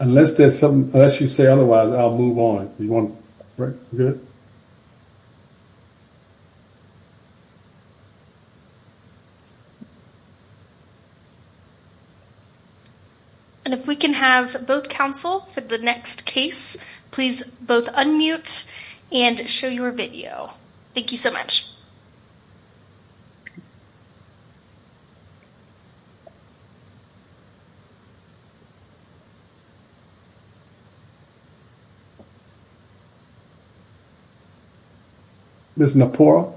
Unless there's something, unless you say otherwise, I'll move on. You want, right, good? And if we can have both counsel for the next case, please both unmute and show your video. Thank you so much. Ms. Napora.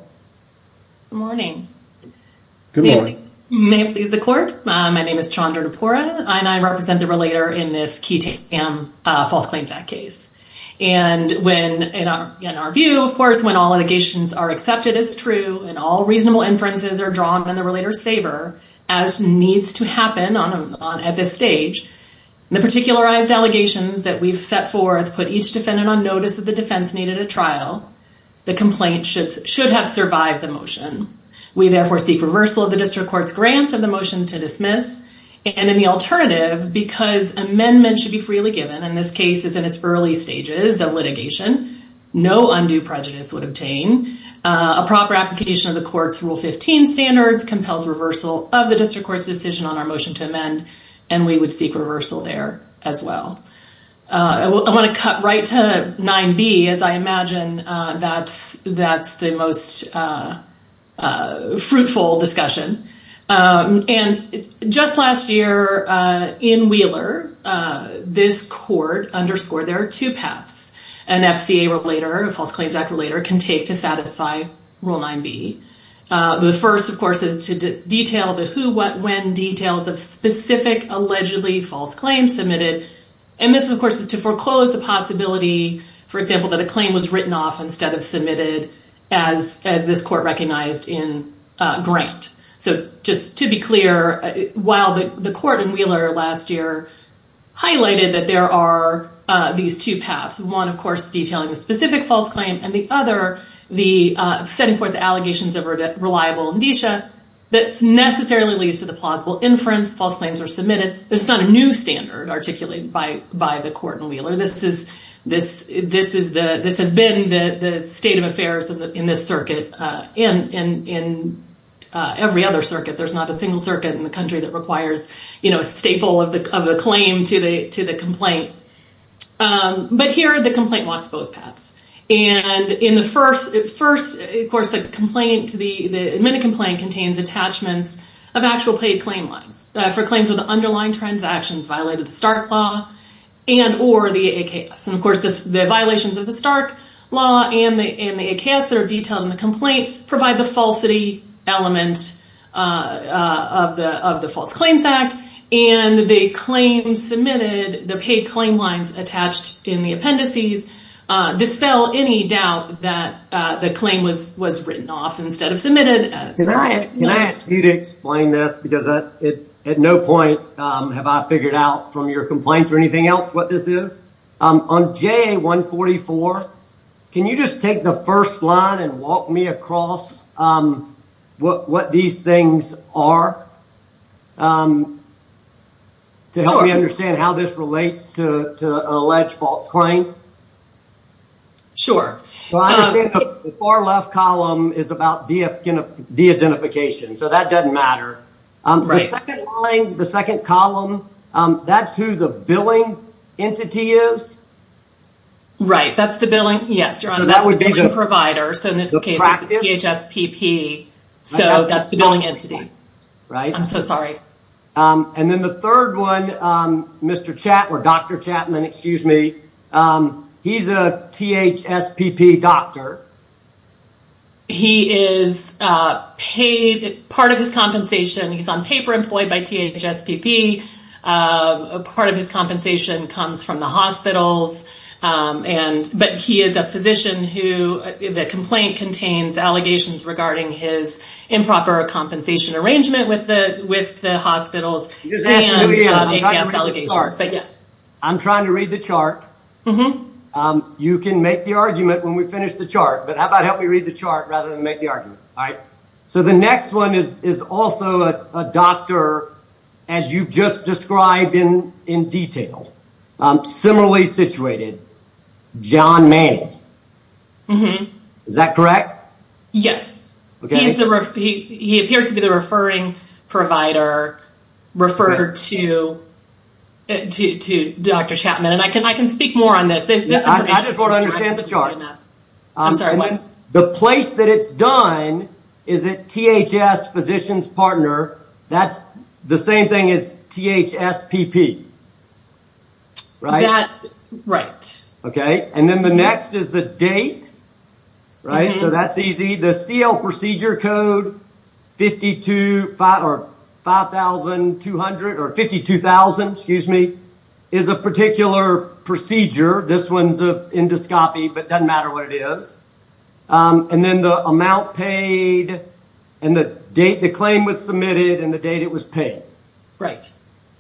Good morning. Good morning. May it please the court, my name is Chandra Napora, and I represent the relator in this false claims act case. And in our view, of course, when all allegations are accepted as true and all reasonable inferences are drawn in the relator's favor, as needs to happen at this stage, the particularized allegations that we've set forth put each defendant on notice that the defense needed a trial. The complaint should have survived the motion. We therefore seek reversal of the district court's grant of the motion to dismiss. And in the alternative, because amendments should be freely given, and this case is in its early stages of litigation, no undue prejudice would obtain. A proper application of the court's rule 15 standards compels reversal of the district court's decision on our motion to amend. And we would seek reversal there as well. I want to cut right to 9b, as I imagine that's the most fruitful discussion. And just last year in Wheeler, this court underscored there are two paths an FCA relator, a false claims act relator, can take to satisfy rule 9b. The first, of course, is to detail the who, what, when details of specific allegedly false claims submitted. And this, of course, is to foreclose the possibility, for example, that a claim was written off instead of submitted as this court recognized in grant. So just to be clear, while the court in Wheeler last year highlighted that there are these two paths, one, of course, detailing a specific false claim, and the other, setting forth the allegations of a reliable indicia that necessarily leads to the plausible inference, false claims are submitted. It's not a new standard articulated by the court in Wheeler. This has been the state of affairs in this circuit and in every other circuit. There's not a single circuit in the country that requires a staple of the claim to the complaint. But here, the complaint walks both paths. And in the first, of course, the complaint, the admitted complaint contains attachments of actual paid claim lines for claims where the underlying transactions violated the start law and or the AKS. And, of course, the violations of the Stark law and the AKS that are detailed in the complaint provide the falsity element of the False Claims Act. And the claim submitted, the paid claim lines attached in the appendices dispel any doubt that the claim was written off instead of submitted. Can I ask you to explain this? Because at no point have I figured out from your complaints or anything else what this is. On JA-144, can you just take the first line and walk me across what these things are to help me understand how this relates to an alleged false claim? Sure. The far left column is about de-identification. So that doesn't matter. The second line, the second column, that's who the billing entity is? Right. That's the billing. Yes, Your Honor. That would be the provider. So in this case, the THSPP. So that's the billing entity. Right. I'm so sorry. And then the third one, Dr. Chapman, he's a THSPP doctor. He is paid part of his compensation. He's on paper employed by THSPP. Part of his compensation comes from the hospitals. But he is a physician who, the complaint contains allegations regarding his improper compensation arrangement with the hospitals and APS allegations. I'm trying to read the chart. You can make the argument when we finish the chart, but how about help me read the chart rather than make the argument? All right. So the next one is also a doctor, as you've just described in detail, similarly situated, John Manning. Is that correct? Yes. He appears to be the referring provider referred to Dr. Chapman. And I can speak more on this. I just want to understand the chart. I'm sorry, what? The place that it's done, is it THS Physicians Partner? That's the same thing as THSPP, right? Right. Okay. And then the next is the date, right? So that's easy. The CL procedure code 5200 or 52,000, excuse me, is a particular procedure. This one's an endoscopy, but it doesn't matter what it is. And then the amount paid and the date the claim was submitted and the date it was paid. Right.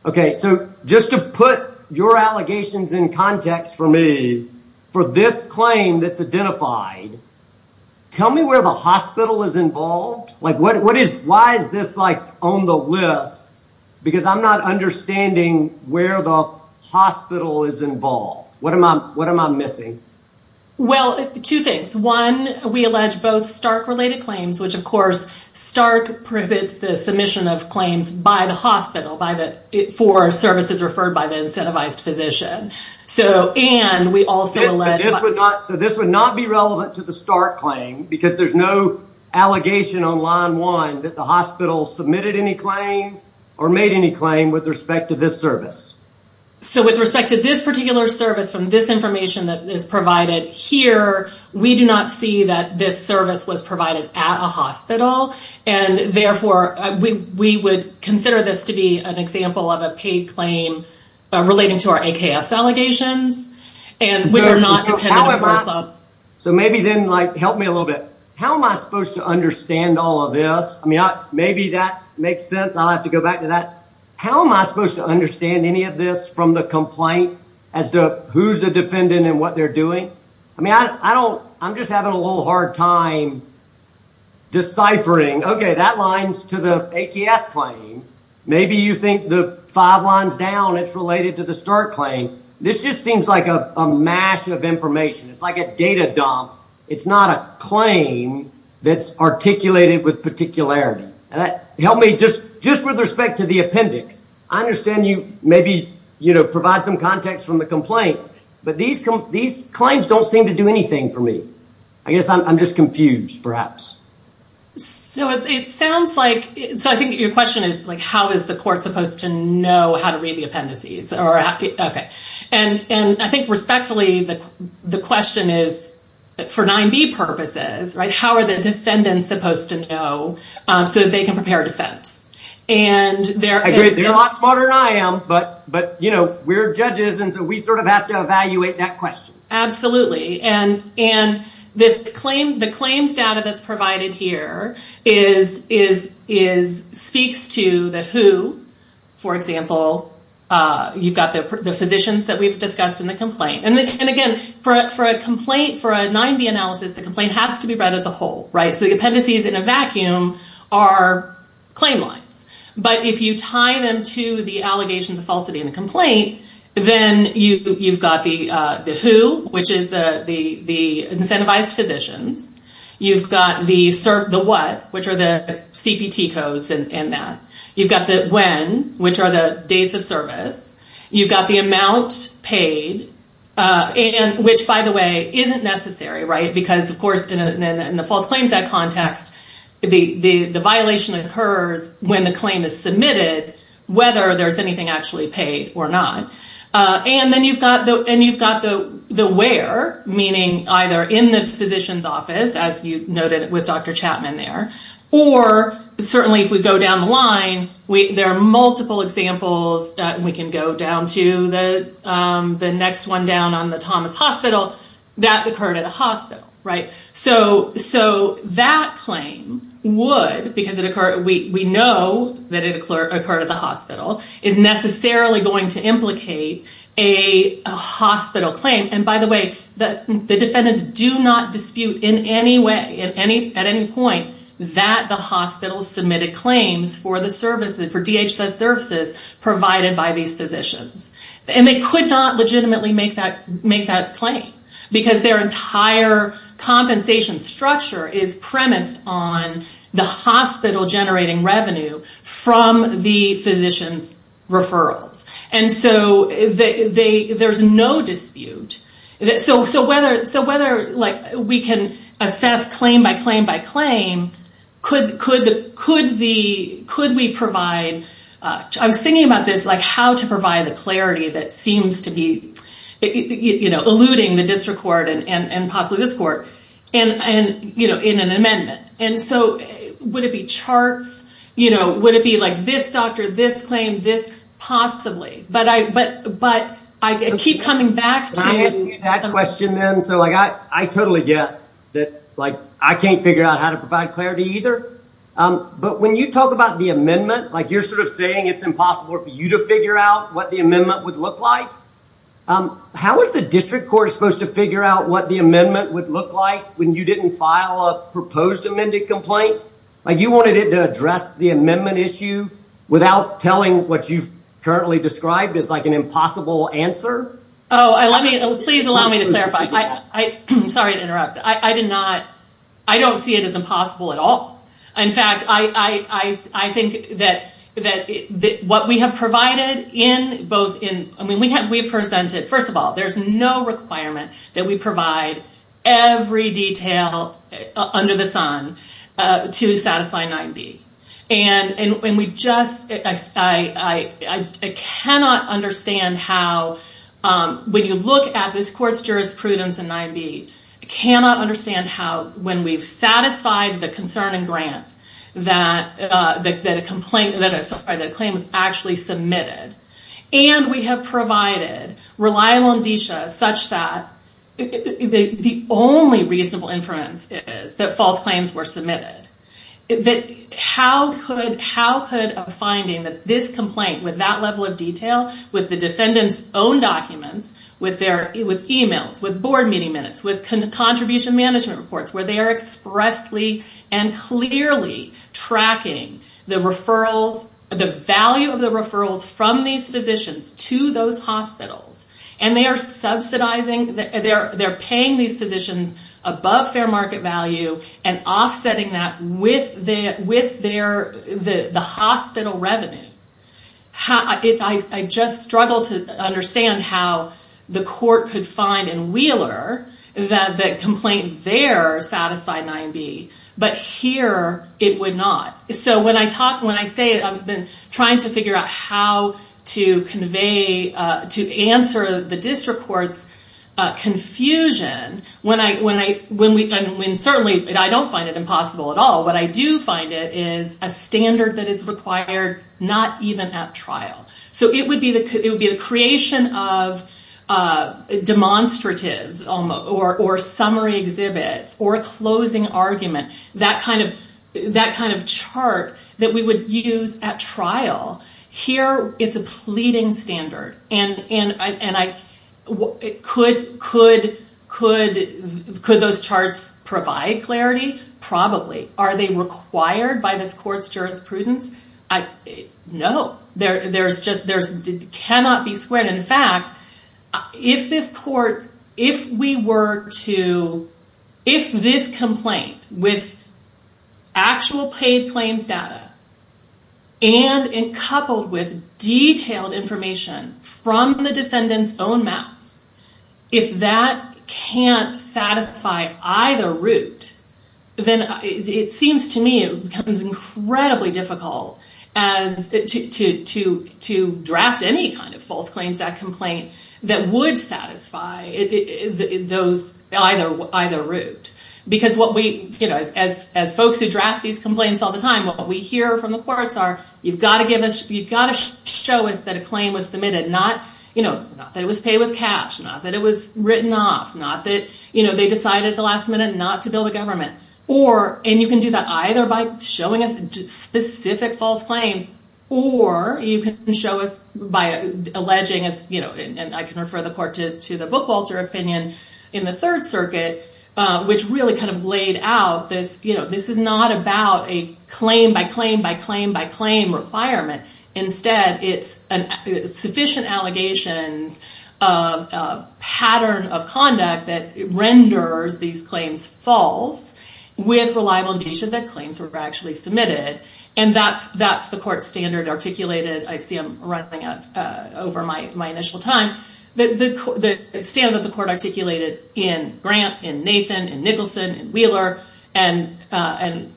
Okay. So just to put your allegations in context for me, for this claim that's identified, tell me where the hospital is involved. Why is this on the list? Because I'm not understanding where the hospital is involved. What am I missing? Well, two things. One, we allege both Stark-related claims, which, of course, Stark prohibits the submission of claims by the hospital for services referred by the incentivized physician. So this would not be relevant to the Stark claim because there's no allegation on line one that the hospital submitted any claim or made any claim with respect to this service. So with respect to this particular service from this information that is provided here, we do not see that this service was provided at a hospital, and therefore we would consider this to be an example of a paid claim relating to our AKS allegations, which are not dependent on HRSA. So maybe then help me a little bit. How am I supposed to understand all of this? I mean, maybe that makes sense. I'll have to go back to that. How am I supposed to understand any of this from the complaint as to who's the defendant and what they're doing? I mean, I'm just having a little hard time deciphering. Okay, that lines to the AKS claim. Maybe you think the five lines down, it's related to the Stark claim. This just seems like a mash of information. It's like a data dump. It's not a claim that's articulated with particularity. Help me just with respect to the appendix. I understand you maybe provide some context from the complaint, but these claims don't seem to do anything for me. I guess I'm just confused, perhaps. So I think your question is, like, how is the court supposed to know how to read the appendices? Okay. And I think respectfully, the question is, for 9b purposes, right, how are the defendants supposed to know so that they can prepare defense? I agree. They're a lot smarter than I am, but, you know, we're judges, and so we sort of have to evaluate that question. And the claims data that's provided here speaks to the who. For example, you've got the physicians that we've discussed in the complaint. And, again, for a complaint, for a 9b analysis, the complaint has to be read as a whole, right? So the appendices in a vacuum are claim lines. But if you tie them to the allegations of falsity in the complaint, then you've got the who, which is the incentivized physicians. You've got the what, which are the CPT codes in that. You've got the when, which are the dates of service. You've got the amount paid, which, by the way, isn't necessary, right, because, of course, in the False Claims Act context, the violation occurs when the claim is submitted, whether there's anything actually paid or not. And then you've got the where, meaning either in the physician's office, as you noted with Dr. Chapman there, or certainly if we go down the line, there are multiple examples that we can go down to. The next one down on the Thomas Hospital, that occurred at a hospital, right? So that claim would, because we know that it occurred at the hospital, is necessarily going to implicate a hospital claim. And, by the way, the defendants do not dispute in any way, at any point, that the hospital submitted claims for DHS services provided by these physicians. And they could not legitimately make that claim because their entire compensation structure is premised on the hospital generating revenue from the physician's referrals. And so there's no dispute. So whether we can assess claim by claim by claim, could we provide, I was thinking about this, like how to provide the clarity that seems to be eluding the district court and possibly this court in an amendment. And so would it be charts? Would it be like this doctor, this claim, this possibly? But I keep coming back to- I totally get that I can't figure out how to provide clarity either. But when you talk about the amendment, like you're sort of saying it's impossible for you to figure out what the amendment would look like. How is the district court supposed to figure out what the amendment would look like when you didn't file a proposed amended complaint? Like you wanted it to address the amendment issue without telling what you've currently described as like an impossible answer? Oh, please allow me to clarify. Sorry to interrupt. I don't see it as impossible at all. In fact, I think that what we have provided in both- I mean, we presented- First of all, there's no requirement that we provide every detail under the sun to satisfy 9B. And we just- I cannot understand how- When you look at this court's jurisprudence in 9B, I cannot understand how when we've satisfied the concern and grant that a claim was actually submitted and we have provided reliable indicia such that the only reasonable inference is that false claims were submitted. How could a finding that this complaint with that level of detail, with the defendant's own documents, with emails, with board meeting minutes, with contribution management reports, where they are expressly and clearly tracking the referrals- the value of the referrals from these physicians to those hospitals and they are subsidizing- they're paying these physicians above fair market value and offsetting that with the hospital revenue. I just struggle to understand how the court could find in Wheeler that the complaint there satisfied 9B. But here, it would not. So when I talk- When I say I've been trying to figure out how to convey- to answer the district court's confusion, when certainly I don't find it impossible at all, what I do find it is a standard that is required not even at trial. So it would be the creation of demonstratives or summary exhibits or a closing argument, that kind of chart that we would use at trial. Here, it's a pleading standard. Could those charts provide clarity? Probably. Are they required by this court's jurisprudence? No. There's just- It cannot be squared. In fact, if this court- If we were to- If this complaint with actual paid claims data and coupled with detailed information from the defendant's own mouths, if that can't satisfy either route, then it seems to me it becomes incredibly difficult to draft any kind of false claims, that complaint that would satisfy either route. Because what we- As folks who draft these complaints all the time, what we hear from the courts are, you've got to give us- You've got to show us that a claim was submitted. Not that it was paid with cash, not that it was written off, not that they decided at the last minute not to bill the government. Or- And you can do that either by showing us specific false claims or you can show us by alleging, and I can refer the court to the Bookwalter opinion in the Third Circuit, which really kind of laid out this- This is not about a claim-by-claim-by-claim-by-claim requirement. Instead, it's sufficient allegations of pattern of conduct that renders these claims false with reliable indication that claims were actually submitted. And that's the court standard articulated. I see I'm running out over my initial time. The standard that the court articulated in Grant, in Nathan, in Nicholson, in Wheeler, and by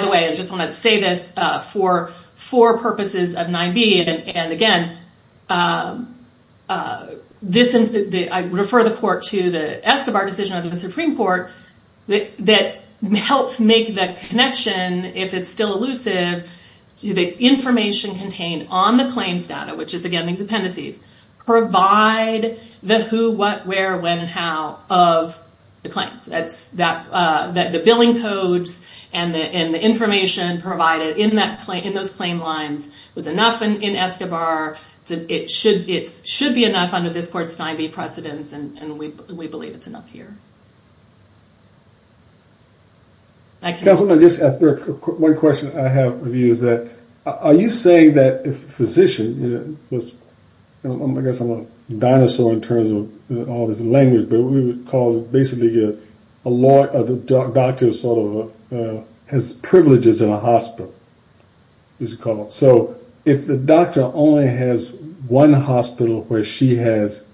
the way, I just want to say this, for four purposes of 9b, and again, I refer the court to the Escobar decision of the Supreme Court that helps make the connection, if it's still elusive, to the information contained on the claims data, which is, again, these appendices, provide the who, what, where, when, and how of the claims. The billing codes and the information provided in those claim lines was enough in Escobar. It should be enough under this court's 9b precedence, and we believe it's enough here. I can't- Definitely, just one question I have for you is that, are you saying that if a physician, I guess I'm a dinosaur in terms of all this language, but what we would call basically a doctor who sort of has privileges in a hospital, as it's called. So if the doctor only has one hospital where she has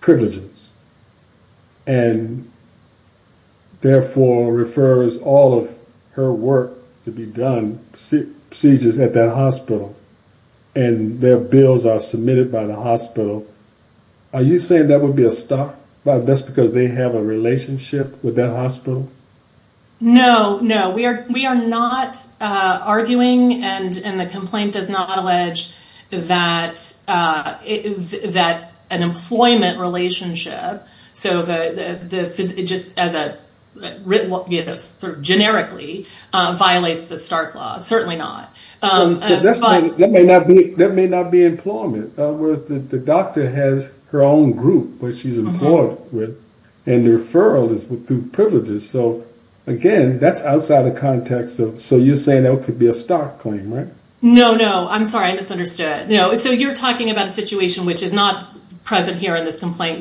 privileges and therefore refers all of her work to be done, procedures at that hospital, and their bills are submitted by the hospital, are you saying that would be a start? That's because they have a relationship with that hospital? No, no. We are not arguing, and the complaint does not allege, that an employment relationship, just as a sort of generically violates the Stark Law. Certainly not. That may not be employment. The doctor has her own group where she's employed, and the referral is through privileges. So again, that's outside the context. So you're saying that could be a Stark claim, right? No, no. I'm sorry, I misunderstood. So you're talking about a situation which is not present here in this complaint,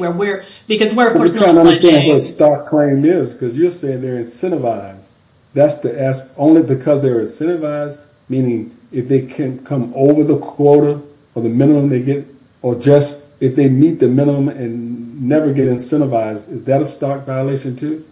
because we're of course going to run change. I'm trying to understand what a Stark claim is, because you're saying they're incentivized. That's to ask only because they're incentivized, meaning if they can come over the quota or the minimum they get, or just if they meet the minimum and never get incentivized, is that a Stark violation too?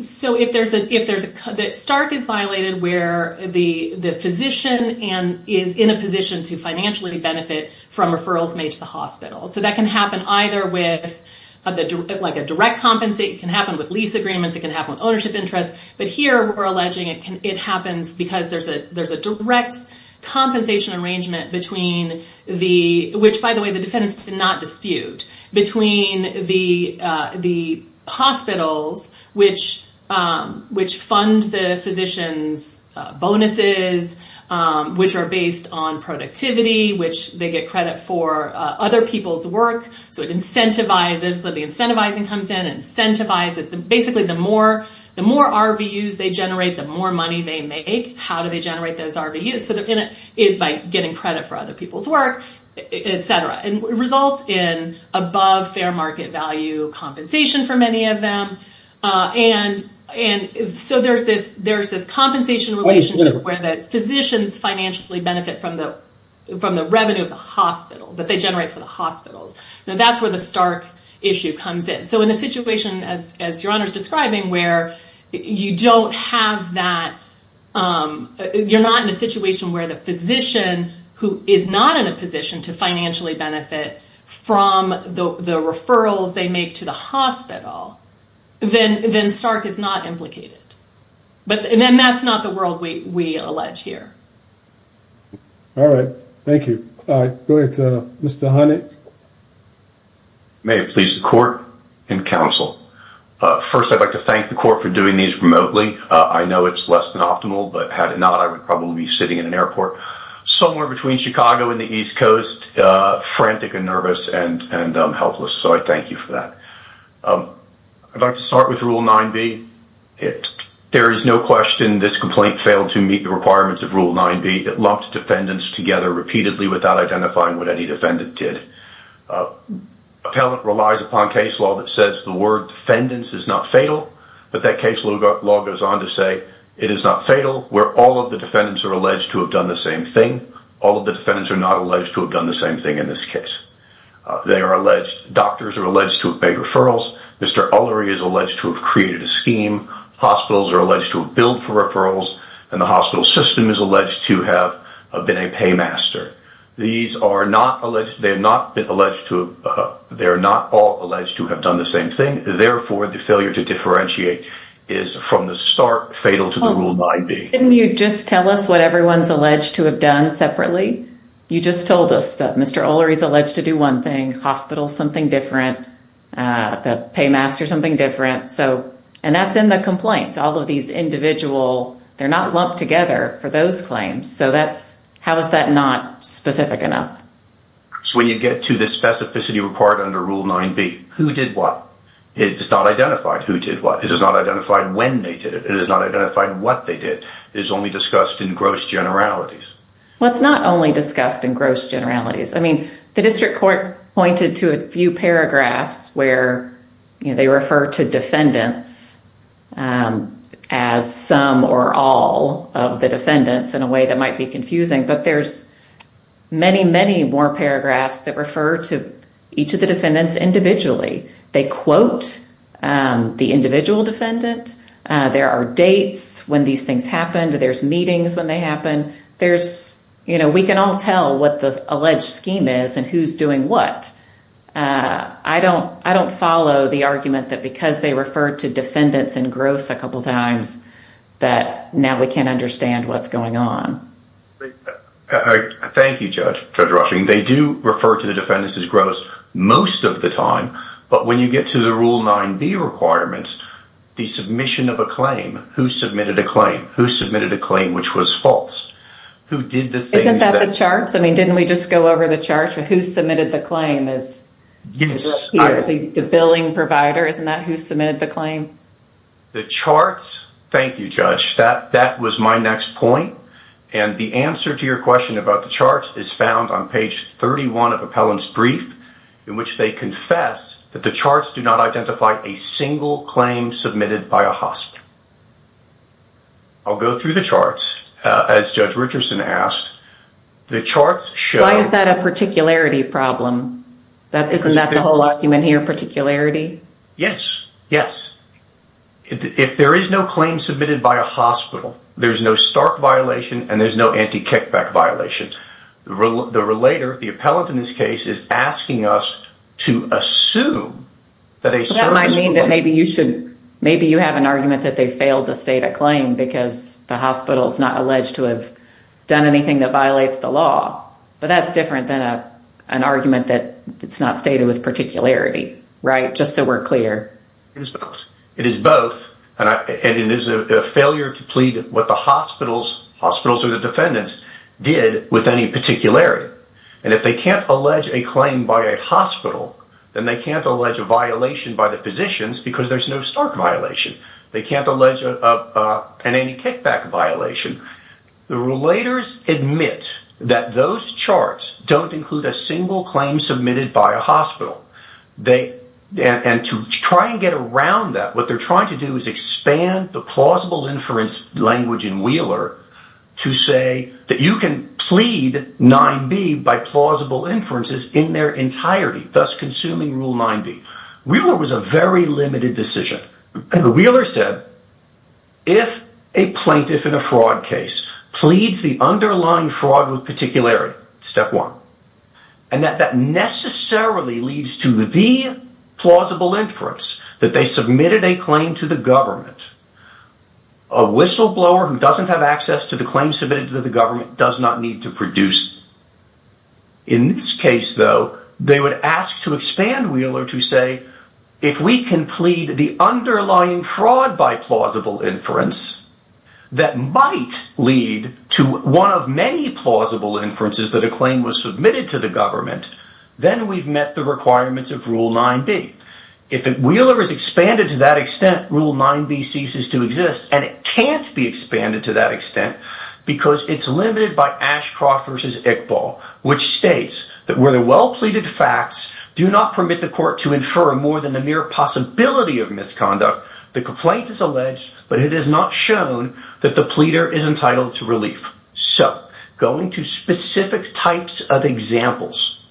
So Stark is violated where the physician is in a position to financially benefit from referrals made to the hospital. So that can happen either with like a direct compensation. It can happen with lease agreements. It can happen with ownership interests. But here we're alleging it happens because there's a direct compensation arrangement between the – which, by the way, the defendants did not dispute – between the hospitals which fund the physician's bonuses, which are based on productivity, which they get credit for other people's work. So it incentivizes when the incentivizing comes in. It incentivizes – basically the more RVUs they generate, the more money they make. How do they generate those RVUs? So it's by getting credit for other people's work, et cetera. And it results in above fair market value compensation for many of them. And so there's this compensation relationship where the physicians financially benefit from the revenue of the hospitals, that they generate for the hospitals. Now that's where the Stark issue comes in. So in a situation, as Your Honor's describing, where you don't have that – you're not in a situation where the physician who is not in a position to financially benefit from the referrals they make to the hospital, then Stark is not implicated. And that's not the world we allege here. All right. Thank you. All right. Go ahead to Mr. Honey. May it please the court and counsel. First, I'd like to thank the court for doing these remotely. I know it's less than optimal, but had it not, I would probably be sitting in an airport somewhere between Chicago and the East Coast, frantic and nervous and helpless. So I thank you for that. I'd like to start with Rule 9b. There is no question this complaint failed to meet the requirements of Rule 9b. It lumped defendants together repeatedly without identifying what any defendant did. Appellant relies upon case law that says the word defendants is not fatal, but that case law goes on to say it is not fatal, where all of the defendants are alleged to have done the same thing. All of the defendants are not alleged to have done the same thing in this case. Doctors are alleged to have made referrals. Mr. Ullery is alleged to have created a scheme. Hospitals are alleged to have billed for referrals, and the hospital system is alleged to have been a paymaster. They are not all alleged to have done the same thing. Therefore, the failure to differentiate is, from the start, fatal to the Rule 9b. Couldn't you just tell us what everyone's alleged to have done separately? You just told us that Mr. Ullery is alleged to do one thing, hospitals something different, the paymaster something different, and that's in the complaint. All of these individual, they're not lumped together for those claims, so how is that not specific enough? So when you get to the specificity required under Rule 9b, who did what? It is not identified who did what. It is not identified when they did it. It is not identified what they did. It is only discussed in gross generalities. Well, it's not only discussed in gross generalities. I mean, the district court pointed to a few paragraphs where they refer to defendants as some or all of the defendants in a way that might be confusing, but there's many, many more paragraphs that refer to each of the defendants individually. They quote the individual defendant. There are dates when these things happened. There's meetings when they happened. There's, you know, we can all tell what the alleged scheme is and who's doing what. I don't follow the argument that because they refer to defendants in gross a couple times that now we can't understand what's going on. Thank you, Judge Rushing. They do refer to the defendants as gross most of the time, but when you get to the Rule 9b requirements, the submission of a claim, who submitted a claim? Who submitted a claim which was false? Isn't that the charts? I mean, didn't we just go over the charts? Who submitted the claim is the billing provider. Isn't that who submitted the claim? The charts, thank you, Judge, that was my next point, and the answer to your question about the charts is found on page 31 of appellant's brief in which they confess that the charts do not identify a I'll go through the charts, as Judge Richardson asked. Why is that a particularity problem? Isn't that the whole argument here, particularity? Yes, yes. If there is no claim submitted by a hospital, there's no Stark violation and there's no anti-kickback violation. The relator, the appellant in this case, is asking us to assume that a claim because the hospital's not alleged to have done anything that violates the law, but that's different than an argument that it's not stated with particularity, right, just so we're clear. It is both, and it is a failure to plead what the hospitals or the defendants did with any particularity, and if they can't allege a claim by a hospital, then they can't allege a violation by the physicians because there's no Stark violation. They can't allege an anti-kickback violation. The relators admit that those charts don't include a single claim submitted by a hospital. And to try and get around that, what they're trying to do is expand the plausible inference language in Wheeler to say that you can plead 9B by plausible inferences in their entirety, thus consuming Rule 9B. Wheeler was a very limited decision. Wheeler said, if a plaintiff in a fraud case pleads the underlying fraud with particularity, step one, and that that necessarily leads to the plausible inference that they submitted a claim to the government, a whistleblower who doesn't have access to the claim submitted to the government does not need to produce. In this case, though, they would ask to expand Wheeler to say, if we can plead the underlying fraud by plausible inference, that might lead to one of many plausible inferences that a claim was submitted to the government, then we've met the requirements of Rule 9B. If Wheeler is expanded to that extent, Rule 9B ceases to exist, and it can't be expanded to that extent because it's limited by Ashcroft v. Iqbal, which states that where the well-pleaded facts do not permit the possibility of misconduct, the complaint is alleged, but it is not shown that the pleader is entitled to relief. So, going to specific types of examples.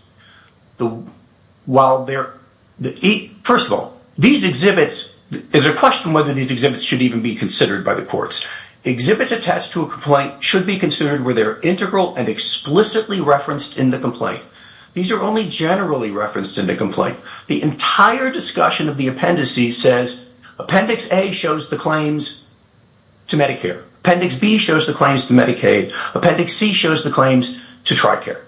First of all, there's a question whether these exhibits should even be considered by the courts. Exhibits attached to a complaint should be considered where they're integral and explicitly referenced in the complaint. These are only generally referenced in the complaint. The entire discussion of the appendices says Appendix A shows the claims to Medicare. Appendix B shows the claims to Medicaid. Appendix C shows the claims to TRICARE.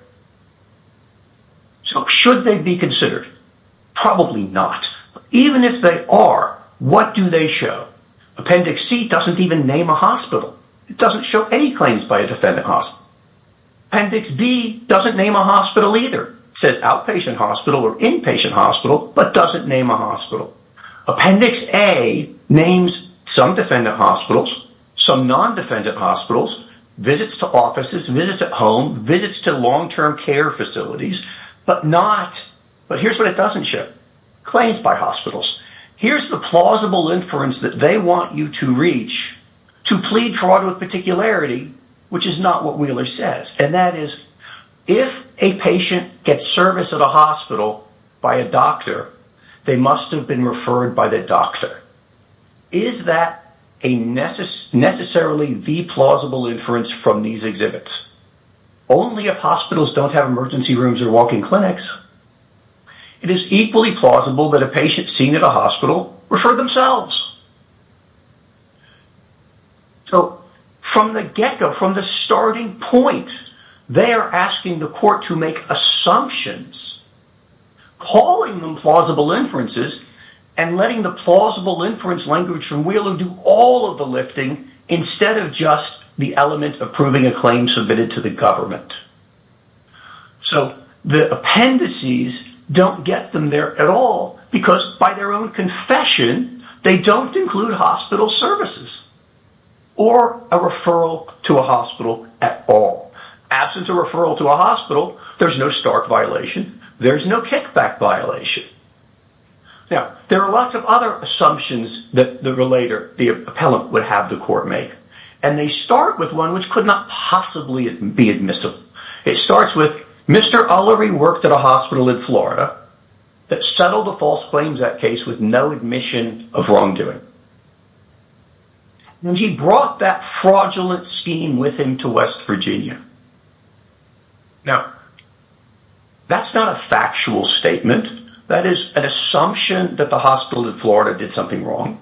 So, should they be considered? Probably not. Even if they are, what do they show? Appendix C doesn't even name a hospital. It doesn't show any claims by a defendant hospital. Appendix B doesn't name a hospital either. It says outpatient hospital or inpatient hospital, but doesn't name a hospital. Appendix A names some defendant hospitals, some non-defendant hospitals, visits to offices, visits at home, visits to long-term care facilities, but not... But here's what it doesn't show. Claims by hospitals. Here's the plausible inference that they want you to reach to plead fraud with particularity, which is not what Wheeler says. And that is, if a patient gets service at a hospital by a doctor, they must have been referred by the doctor. Is that necessarily the plausible inference from these exhibits? Only if hospitals don't have emergency rooms or walk-in clinics. It is equally plausible that a patient seen at a hospital referred themselves. So, from the get-go, from the starting point, they are asking the court to make assumptions, calling them plausible inferences, and letting the plausible inference language from Wheeler do all of the lifting instead of just the element of proving a claim submitted to the government. So, the appendices don't get them there at all, because, by their own confession, they don't include hospital services or a referral to a hospital at all. Absent a referral to a hospital, there's no stark violation, there's no kickback violation. Now, there are lots of other assumptions that the appellant would have the court make, and they start with one which could not possibly be admissible. It starts with, Mr. Ullery worked at a hospital in Florida that settled a false claims act case with no admission of wrongdoing. And he brought that fraudulent scheme with him to West Virginia. Now, that's not a factual statement. That is an assumption that the hospital in Florida did something wrong.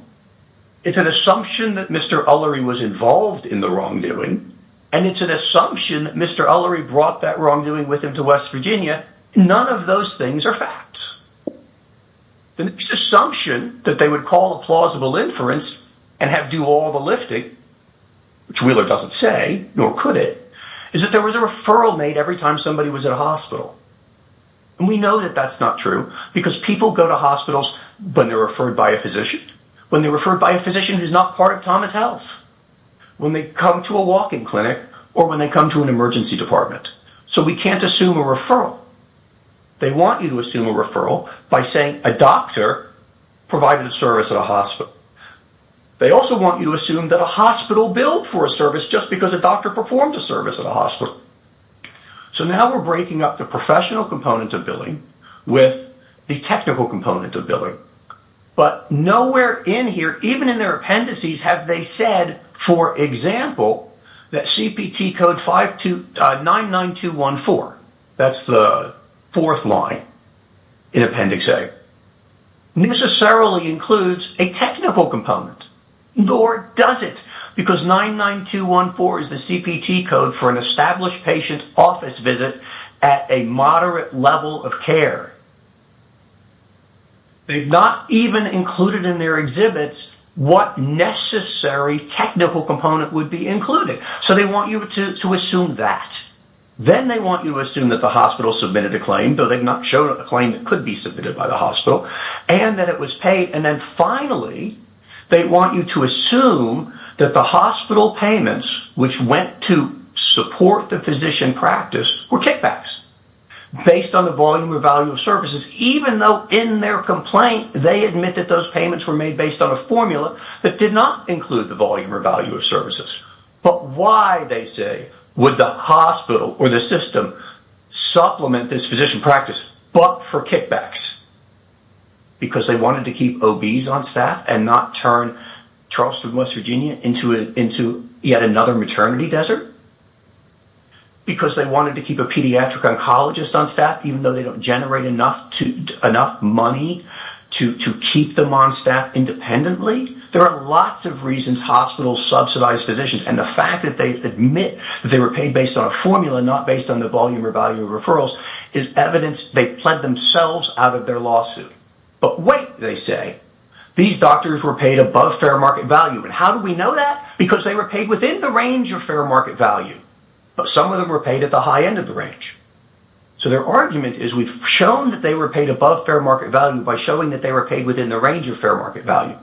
It's an assumption that Mr. Ullery was involved in the wrongdoing, and it's an assumption that Mr. Ullery brought that wrongdoing with him to West Virginia. None of those things are facts. The next assumption that they would call a plausible inference and have do all the lifting, which Wheeler doesn't say, nor could it, is that there was a referral made every time somebody was at a hospital. And we know that that's not true, because people go to hospitals when they're referred by a physician, when they're referred by a physician who's not part of Thomas Health, when they come to a walk-in clinic, or when they come to an emergency department. So we can't assume a referral. They want you to assume a referral by saying a doctor provided a service at a hospital. They also want you to assume that a hospital billed for a service just because a doctor performed a service at a hospital. So now we're breaking up the professional component of billing with the technical component of billing. But nowhere in here, even in their appendices, have they said, for example, that CPT code 99214, that's the fourth line in Appendix A, necessarily includes a technical component. Nor does it, because 99214 is the CPT code for an established patient office visit at a moderate level of care. They've not even included in their exhibits what necessary technical component would be included. So they want you to assume that. Then they want you to assume that the hospital submitted a claim, though they've not shown a claim that could be submitted by the hospital, and that it was paid. And then finally, they want you to assume that the hospital payments, which went to support the physician practice, were kickbacks based on the volume or value of services, even though in their complaint, they admit that those payments were made based on a formula that did not include the volume or value of services. But why, they say, would the hospital or the system supplement this physician practice, but for kickbacks? Because they wanted to keep OBs on staff and not turn Charleston, West Virginia, into yet another maternity desert? Because they wanted to keep a pediatric oncologist on staff, even though they don't generate enough money to keep them on staff independently? There are lots of reasons hospitals subsidize physicians, and the fact that they admit they were paid based on a formula, not based on the volume or value of referrals, is evidence they pled themselves out of their lawsuit. But wait, they say, these doctors were paid above fair market value. And how do we know that? Because they were paid within the range of fair market value. But some of them were paid at the high end of the range. So their argument is we've shown that they were paid above fair market value by showing that they were paid within the range of fair market value.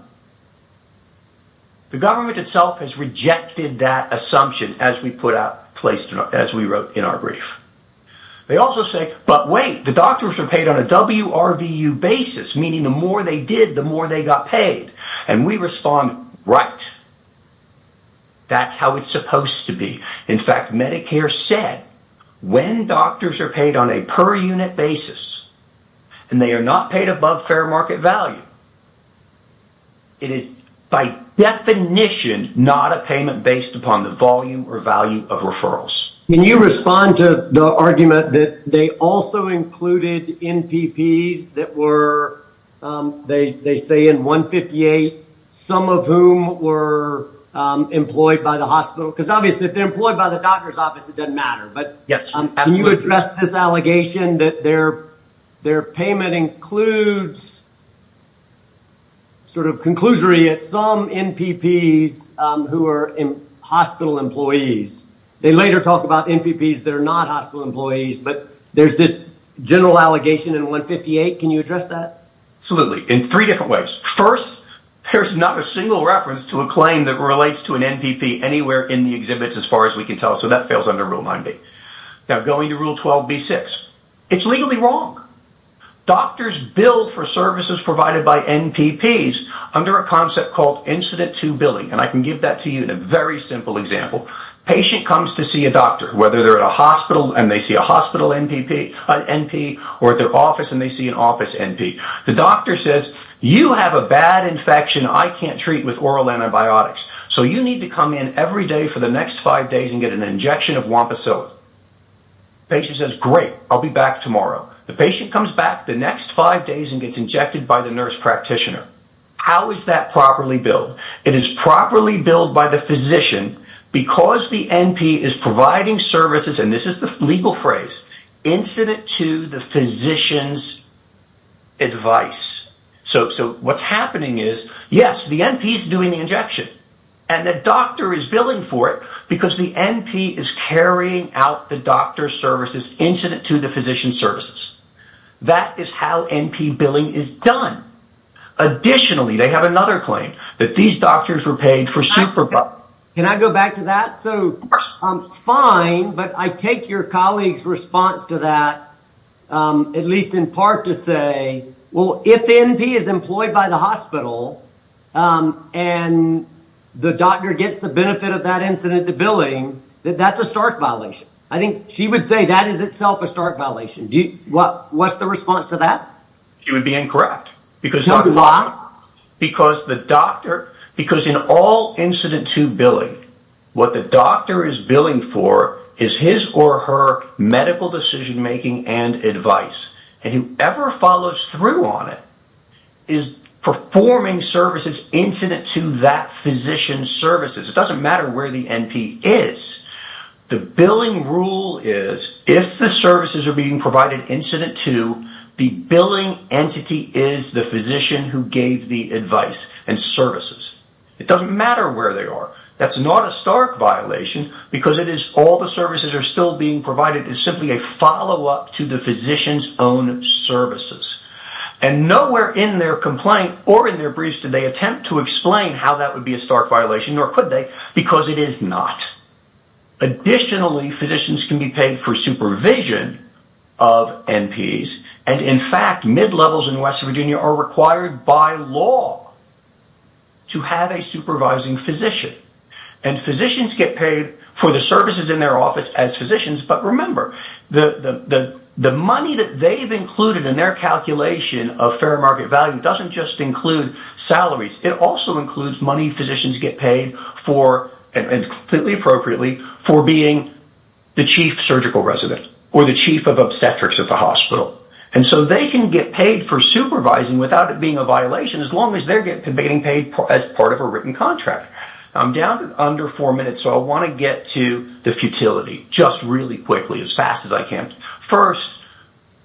The government itself has rejected that assumption as we wrote in our brief. They also say, but wait, the doctors were paid on a WRVU basis, meaning the more they did, the more they got paid. And we respond, right. That's how it's supposed to be. In fact, Medicare said when doctors are paid on a per unit basis, and they are not paid above fair market value, it is by definition not a payment based upon the volume or value of referrals. Can you respond to the argument that they also included NPPs that were, they say in 158, some of whom were employed by the hospital? Because obviously if they're employed by the doctor's office, it doesn't matter. But can you address this allegation that their payment includes sort of conclusory as some NPPs who are hospital employees. They later talk about NPPs that are not hospital employees, but there's this general allegation in 158. Can you address that? Absolutely, in three different ways. First, there's not a single reference to a claim that relates to an NPP anywhere in the exhibits as far as we can tell. So that fails under Rule 9b. Now going to Rule 12b-6, it's legally wrong. Doctors bill for services provided by NPPs under a concept called incident to billing. And I can give that to you in a very simple example. A patient comes to see a doctor, whether they're at a hospital and they see a hospital NPP, or at their office and they see an office NP. The doctor says, you have a bad infection I can't treat with oral antibiotics. So you need to come in every day for the next five days and get an injection of Wampasilla. The patient says, great, I'll be back tomorrow. The patient comes back the next five days and gets injected by the nurse practitioner. How is that properly billed? It is properly billed by the physician because the NP is providing services, and this is the legal phrase, incident to the physician's advice. So what's happening is yes, the NP is doing the injection and the doctor is billing for it because the NP is carrying out the doctor's services incident to the physician's services. That is how NP billing is done. Additionally, they have another claim, that these doctors were paid for Can I go back to that? Fine, but I take your colleague's response to that at least in part to say well, if the NP is employed by the hospital and the doctor gets the benefit of that incident to billing, that's a stark violation. I think she would say that is itself a stark violation. What's the response to that? It would be incorrect. Why? Because in all incident to billing what the doctor is billing for is his or her medical decision making and advice. And whoever follows through on it is performing services incident to that physician's services. It doesn't matter where the NP is. The billing rule is if the services are being provided incident to the billing entity is the physician who gave the advice and services. It doesn't matter where they are. That's not a stark violation because all the services are still being provided as simply a follow-up to the physician's own services. And nowhere in their complaint or in their briefs did they attempt to explain how that would be a stark violation, nor could they, because it is not. Additionally, physicians can be paid for supervision of NPs. And in fact, mid-levels in West Virginia are required by law to have a supervising physician. And physicians get paid for the services in their office as physicians. But remember, the money that they've included in their calculation of fair market value doesn't just include salaries. It also includes money physicians get paid for, and completely appropriately, for being the chief surgical resident or the chief of obstetrics at the hospital. And so they can get paid for supervising without it being a violation as long as they're getting paid as part of a written contract. I'm down to under four minutes, so I want to get to the futility just really quickly, as fast as I can. First,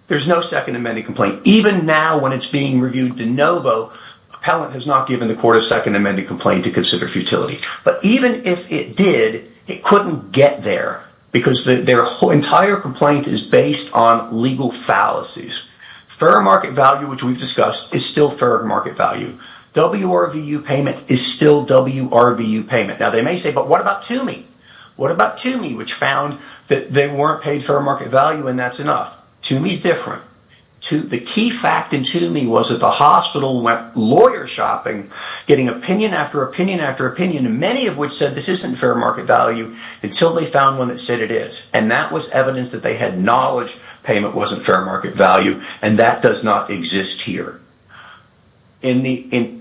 there's no Second Amendment complaint. Even now when it's being reviewed de novo, appellant has not given the court a Second Amendment complaint to consider futility. But even if it did, it couldn't get there because their entire complaint is based on legal fallacies. Fair market value, which we've discussed, is still fair market value. WRVU payment is still WRVU payment. Now they may say, but what about TUMI? What about TUMI, which found that they weren't paid fair market value and that's enough? TUMI's different. The key fact in TUMI was that the hospital went lawyer shopping, getting opinion after opinion after opinion, many of which said this isn't fair market value until they found one that said it is. And that was evidence that they had knowledge payment wasn't fair market value, and that does not exist here. They've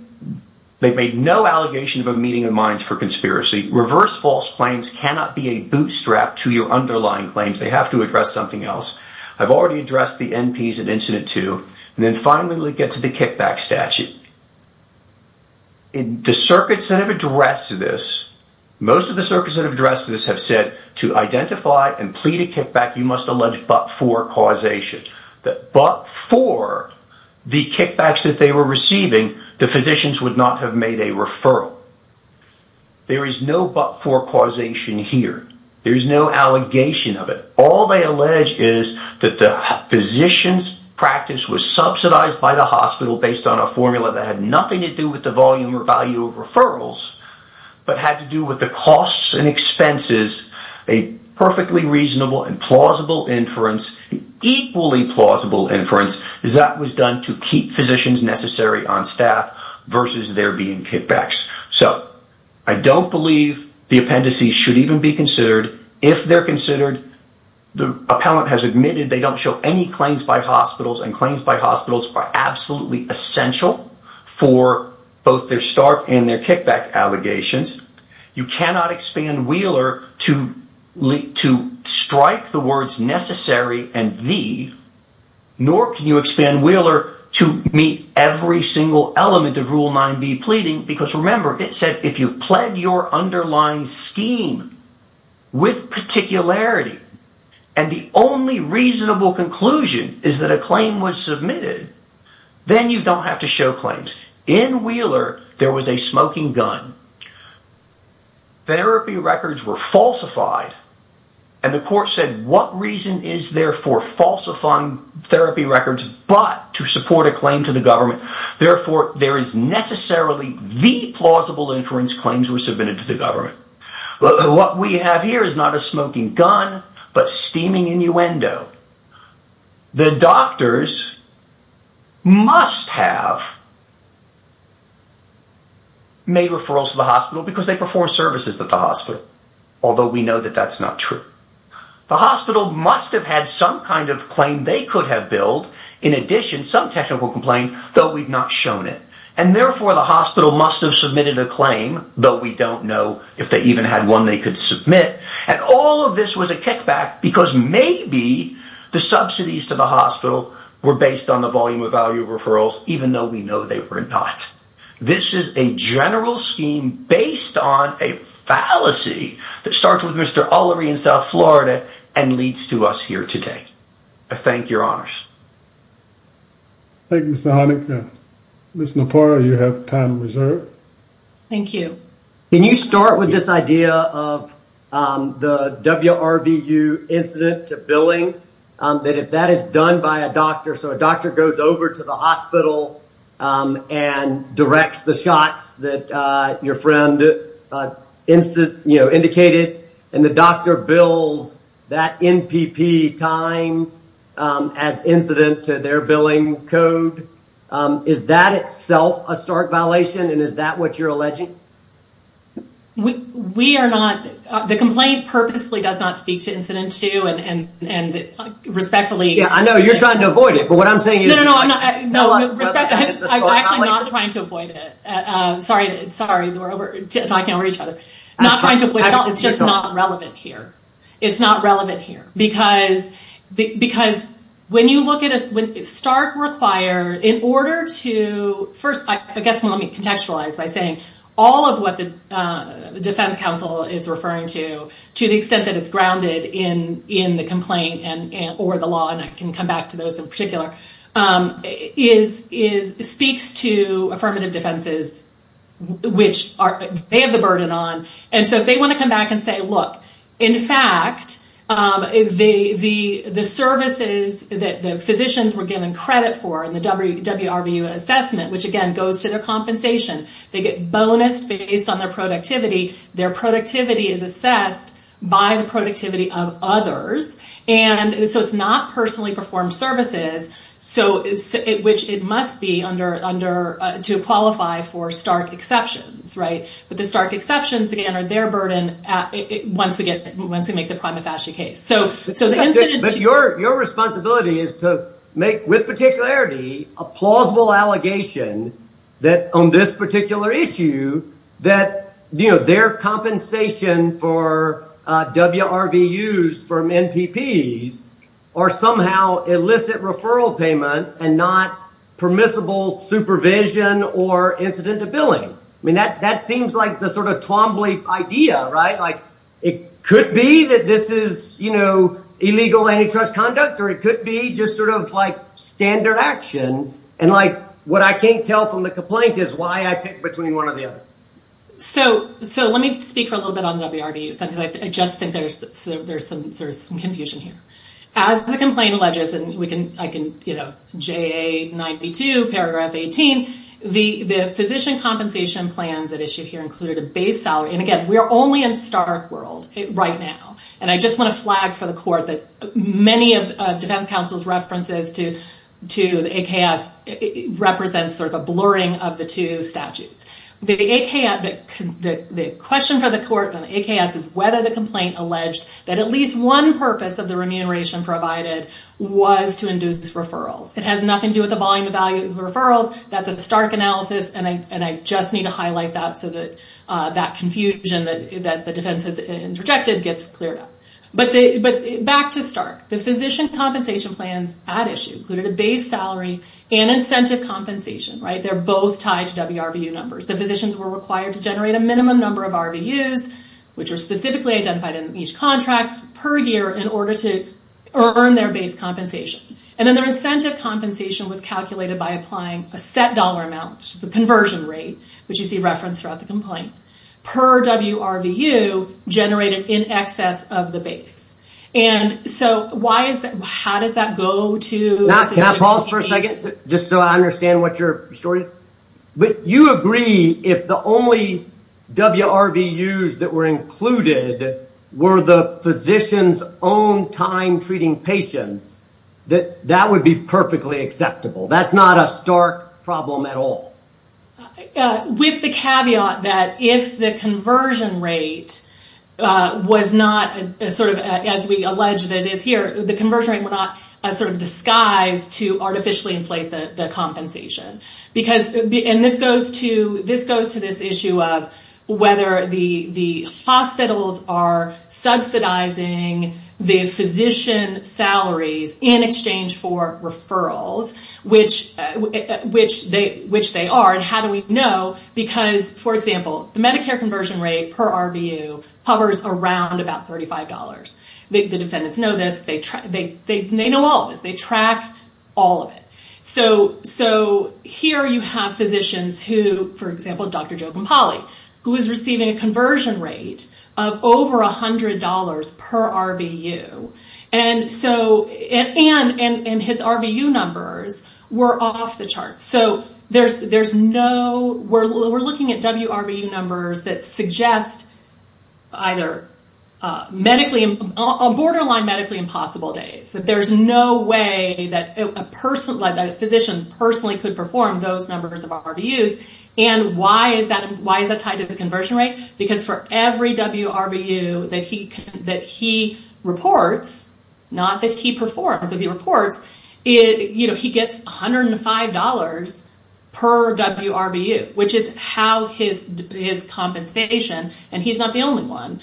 made no allegation of a meeting of minds for conspiracy. Reverse false claims cannot be a bootstrap to your underlying claims. They have to address something else. I've already addressed the NPs in Incident 2, and then finally we'll get to the kickback statute. The circuits that have addressed this, most of the circuits that have addressed this have said to identify and plead a kickback, you must allege but-for causation. That but-for the kickbacks that they were receiving, the physicians would not have made a referral. There is no but-for causation here. There is no allegation of it. All they allege is that the physician's practice was subsidized by the hospital based on a formula that had nothing to do with the volume or value of referrals, but had to do with the costs and expenses. A perfectly reasonable and plausible inference, equally plausible inference, is that was done to keep physicians necessary on staff versus there being kickbacks. So, I don't believe the appendices should even be considered. If they're considered, the appellant has admitted they don't show any claims by hospitals, and claims by hospitals are absolutely essential for both their stark and their kickback allegations. You cannot expand Wheeler to strike the words necessary and thee, nor can you expand Wheeler to meet every single element of Rule 9b pleading, because remember, it said if you've pled your underlying scheme with particularity and the only reasonable conclusion is that a claim was submitted, then you don't have to show claims. In Wheeler, there was a smoking gun. Therapy records were falsified and the court said what reason is there for falsifying therapy records, but to support a claim to the government? Therefore, there is necessarily the plausible inference claims were submitted to the government. What we have here is not a smoking gun, but steaming innuendo. The doctors must have made referrals to the hospital because they perform services at the hospital, although we know that that's not true. The hospital must have had some kind of claim they could have billed, in addition some technical complaint, though we've not shown it. And therefore, the hospital must have submitted a claim, though we don't know if they even had one they could submit. And all of this was a kickback because maybe the subsidies to the hospital were based on the volume of value referrals, even though we know they were not. This is a general scheme based on a fallacy that starts with Mr. Ullery in South Florida and leads to us here today. I thank your honors. Thank you, Mr. Honaker. Ms. Napora, you have time reserved. Thank you. Can you start with this idea of the WRVU incident billing, that if that is done by a doctor, so a doctor goes over to the hospital and directs the shots that your friend indicated and the doctor bills that NPP time as incident to their billing code, is that itself a stark violation and is that what you're alleging? We are not, the complaint purposely does not speak to incident two and respectfully... Yeah, I know you're trying to avoid it, but what I'm saying is... No, no, no. I'm actually not trying to avoid it. Sorry, we're talking over each other. Not trying to avoid it at all, it's just not relevant here. It's not relevant here because when you look at a... Stark requires, in order to... First, I guess let me contextualize by saying all of what the defense counsel is referring to to the extent that it's grounded in the complaint or the law, and I can come back to those in particular, speaks to affirmative defenses, which they have the burden on, and so if they want to come back and say, look, in fact the services that the physicians were given credit for in the WRVU assessment which again goes to their compensation, they get bonus based on their productivity, their productivity is assessed by the productivity of others and so it's not personally performed services which it must be to qualify for Stark exceptions, right? But the Stark exceptions, again, are their burden once we make the prima facie case. But your responsibility is to make with particularity a plausible allegation that on this particular issue that their compensation for WRVUs from NPPs are somehow illicit referral payments and not permissible supervision or incident of billing. I mean, that seems like the sort of Twombly idea, right? It could be that this is illegal antitrust conduct or it could be just sort of standard action and what I can't tell from the complaint is why I picked between one or the other. So let me speak for a little bit on WRVUs because I just think there's some confusion here. As the complaint alleges, and I can JA 92 paragraph 18 the physician compensation plans at issue here included a base salary, and again, we're only in Stark world right now, and I just want to flag for the court that many of defense counsel's references to the AKS represents sort of a blurring of the two statutes. The question for the court on the AKS is whether the complaint alleged that at least one purpose of the remuneration provided was to induce referrals. It has nothing to do with the volume of value of referrals. That's a Stark analysis and I just need to highlight that so that confusion that the defense has interjected gets cleared up. But back to Stark. The physician compensation plans at issue included a base salary and incentive compensation, right? They're both tied to WRVU numbers. The physicians were required to generate a minimum number of RVUs, which are specifically identified in each contract per year in order to earn their base compensation. And then their incentive compensation was calculated by applying a set dollar amount, which is the conversion rate, which you see referenced throughout the complaint per WRVU generated in excess of the base. And so how does that go to... Can I pause for a second just so I understand what your story is? But you agree if the only WRVUs that were included were the physician's own time-treating patients, that that would be perfectly acceptable. That's not a Stark problem at all. With the caveat that if the conversion rate was not sort of, as we allege that it is here, the conversion rate were not sort of disguised to artificially inflate the compensation. And this goes to this issue of whether the hospitals are subsidizing the physician salaries in exchange for referrals, which they are. And how do we know? Because, for example, the Medicare conversion rate per RVU hovers around about $35. The defendants know this. They know all of this. They track all of it. So here you have physicians who, for example, Dr. Joe Campali, who is receiving a conversion rate of over $100 per RVU. And his RVU numbers were off the charts. We're looking at WRVU numbers that suggest either borderline medically impossible days. There's no way that a physician personally could perform those numbers of RVUs. And why is that tied to the conversion rate? Because for every WRVU that he reports, not that he performs, but he reports, he gets $105 per WRVU, which is his compensation. And he's not the only one.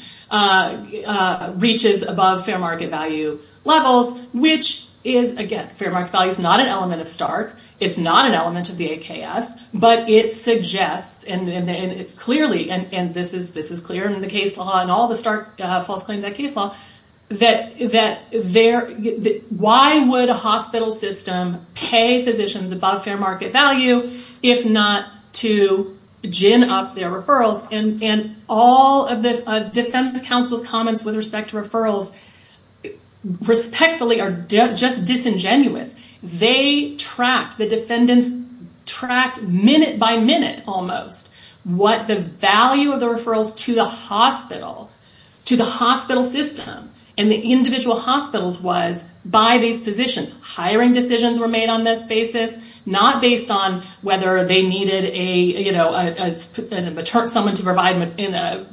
Reaches above fair market value levels, which is, again, fair market value is not an element of Stark. It's not an element of the AKS, but it suggests, and this is clear in the case law and all the Stark false claims in the case law, that why would a hospital system pay physicians above fair market value if not to gin up their referrals? And all of the defense counsel's comments with respect to referrals respectfully are just disingenuous. They tracked, the defendants tracked minute by minute almost what the value of the referrals to the hospital, to the hospital system and the individual hospitals was by these physicians. Hiring decisions were made on this basis, not based on whether they needed someone to provide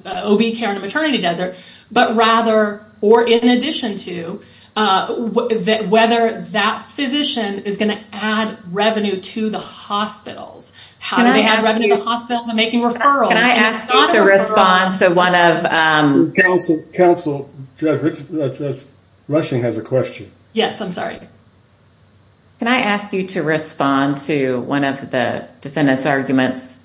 OB care in a maternity desert, but rather or in addition to, whether that physician is going to add revenue to the hospitals. How do they add revenue to hospitals and making referrals? Can I ask you to respond to one of... Counsel, Judge Rushing has a question. Yes, I'm sorry. Can I ask you to respond to one of the defendant's arguments?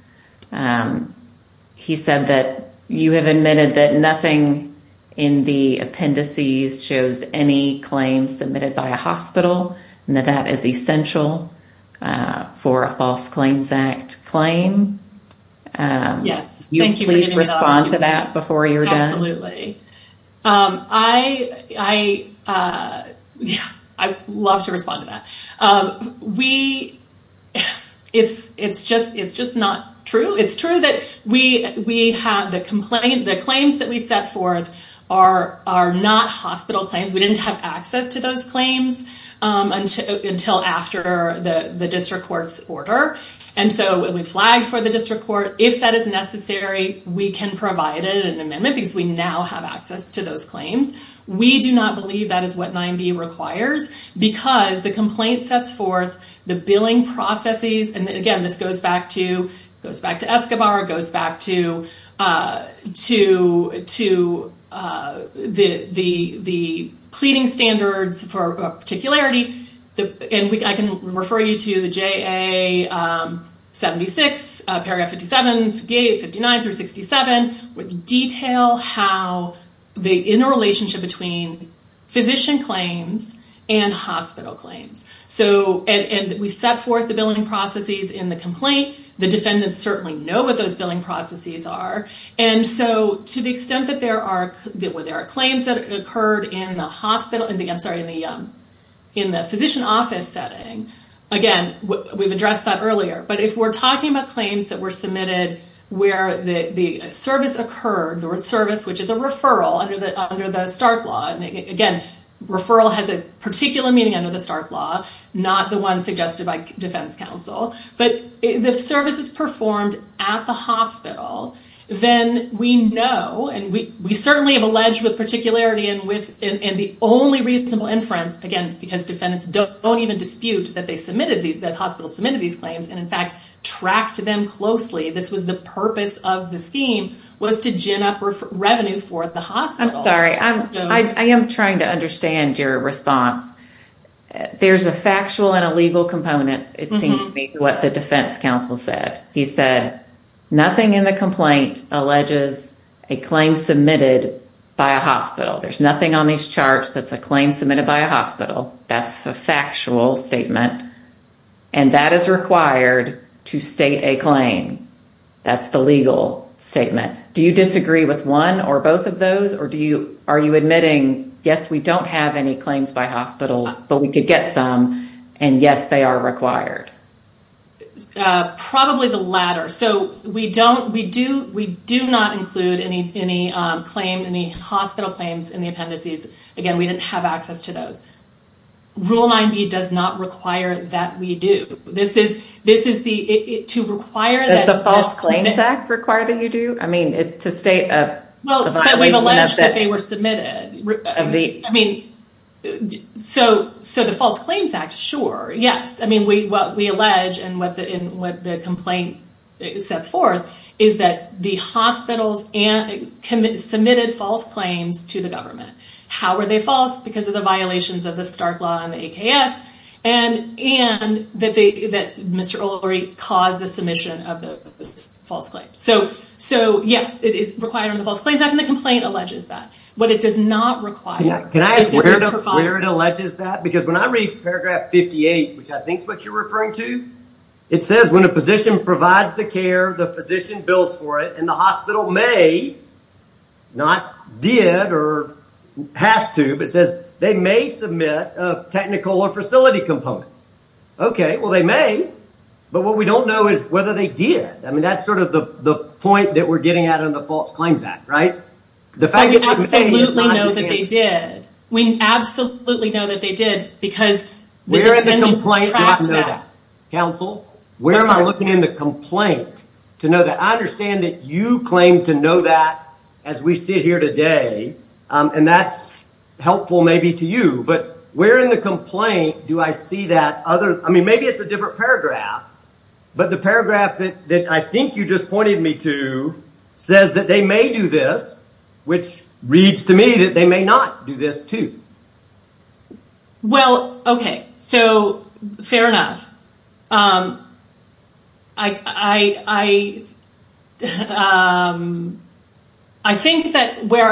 He said that you have admitted that nothing in the appendices shows any claims submitted by a hospital and that that is essential for a False Claims Act claim. Yes, thank you. Please respond to that before you're done. Absolutely. I love to respond to that. It's just not true. It's true that we have the claims that we set forth are not hospital claims. We didn't have access to those claims until after the district court's order and so we flagged for the district court. If that is necessary, we can provide an amendment because we now have access to those claims. We do not believe that is what 9b requires because the complaint sets forth the billing processes and again this goes back to Escobar, goes back to the pleading standards for particularity. I can refer you to the JA 76, paragraph 57, 58, 59 through 67 with detail how the interrelationship between physician claims and hospital claims. We set forth the billing processes in the complaint. The defendants certainly know what those billing processes are and so to the extent that there are claims that occurred in the physician office setting, again, we've addressed that earlier, but if we're talking about claims that were submitted where the service occurred, the word service, which is a referral under the Stark Law, and again, referral has a particular meaning under the Stark Law, not the one suggested by defense counsel, but if service is performed at the hospital, then we know and we certainly have alleged with particularity and the only reasonable inference, again, because defendants don't even dispute that the hospital submitted these claims and in fact, tracked them closely. This was the purpose of the scheme was to gin up revenue for the hospital. I'm sorry, I am trying to understand your response. There's a factual and a legal component, it seems to me, to what the defense counsel said. He said, nothing in the complaint alleges a claim submitted by a hospital. There's nothing on these charts that's a claim submitted by a hospital. That's a factual statement and that is required to state a claim. That's the legal statement. Do you disagree with one or both of those or are you admitting, yes, we don't have any claims by hospitals, but we could get some and yes, they are required? Probably the latter. So, we do not include any hospital claims in the appendices. Again, we didn't have access to those. Rule 9B does not require that we do. Does the False Claims Act require that you do? I mean, to state a violation of it. But we've alleged that they were submitted. So, the False Claims Act, sure, yes. What we allege and what the hospitals submitted false claims to the government. How were they false? Because of the violations of the Stark Law and the AKS and that Mr. Ulrey caused the submission of the false claims. So, yes, it is required under the False Claims Act and the complaint alleges that. What it does not require... Can I ask where it alleges that? Because when I read paragraph 58, which I think is what you're referring to, it says when a physician provides the care, the physician bills for it and the hospital may, not did or has to, but says they may submit a technical or facility component. Okay, well they may, but what we don't know is whether they did. I mean, that's sort of the point that we're getting out of the False Claims Act, right? We absolutely know that they did. We absolutely know that they did because the defendants complaint doesn't know that. Counsel, where am I looking in the complaint to know that? I understand that you claim to know that as we sit here today and that's helpful maybe to you but where in the complaint do I see that other... I mean, maybe it's a different paragraph, but the paragraph that I think you just pointed me to says that they may do this, which reads to me that they may not do this too. Well, okay, so fair enough. I think that where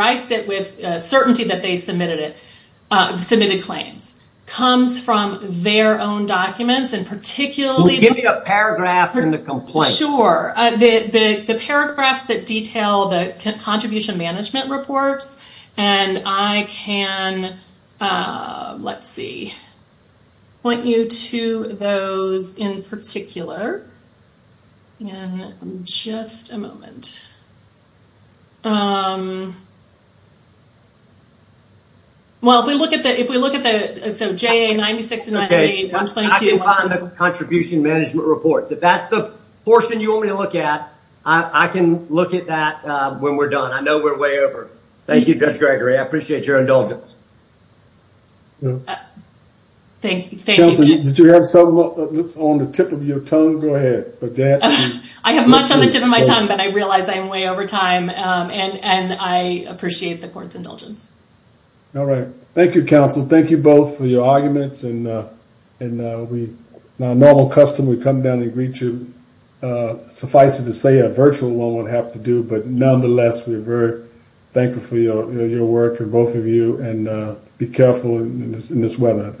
I sit with certainty that they submitted claims comes from their own documents and particularly... Give me a paragraph in the complaint. Sure. The paragraphs that detail the contribution management reports and I can, let's see, point you to those in particular in just a moment. Well, if we look at the... I can find the contribution management reports. If that's the portion you want me to look at, I can look at that when we're done. I know we're way over. Thank you, Judge Gregory. I appreciate your indulgence. Thank you. Counselor, did you have something on the tip of your tongue? Go ahead. I have much on the tip of my tongue but I realize I'm way over time and I appreciate the court's indulgence. Thank you, counsel. Thank you both for your arguments and we, in our normal custom, we come down and greet you. Suffice it to say, a virtual one would have to do, but nonetheless, we're very thankful for your work, both of you, and be careful in this weather.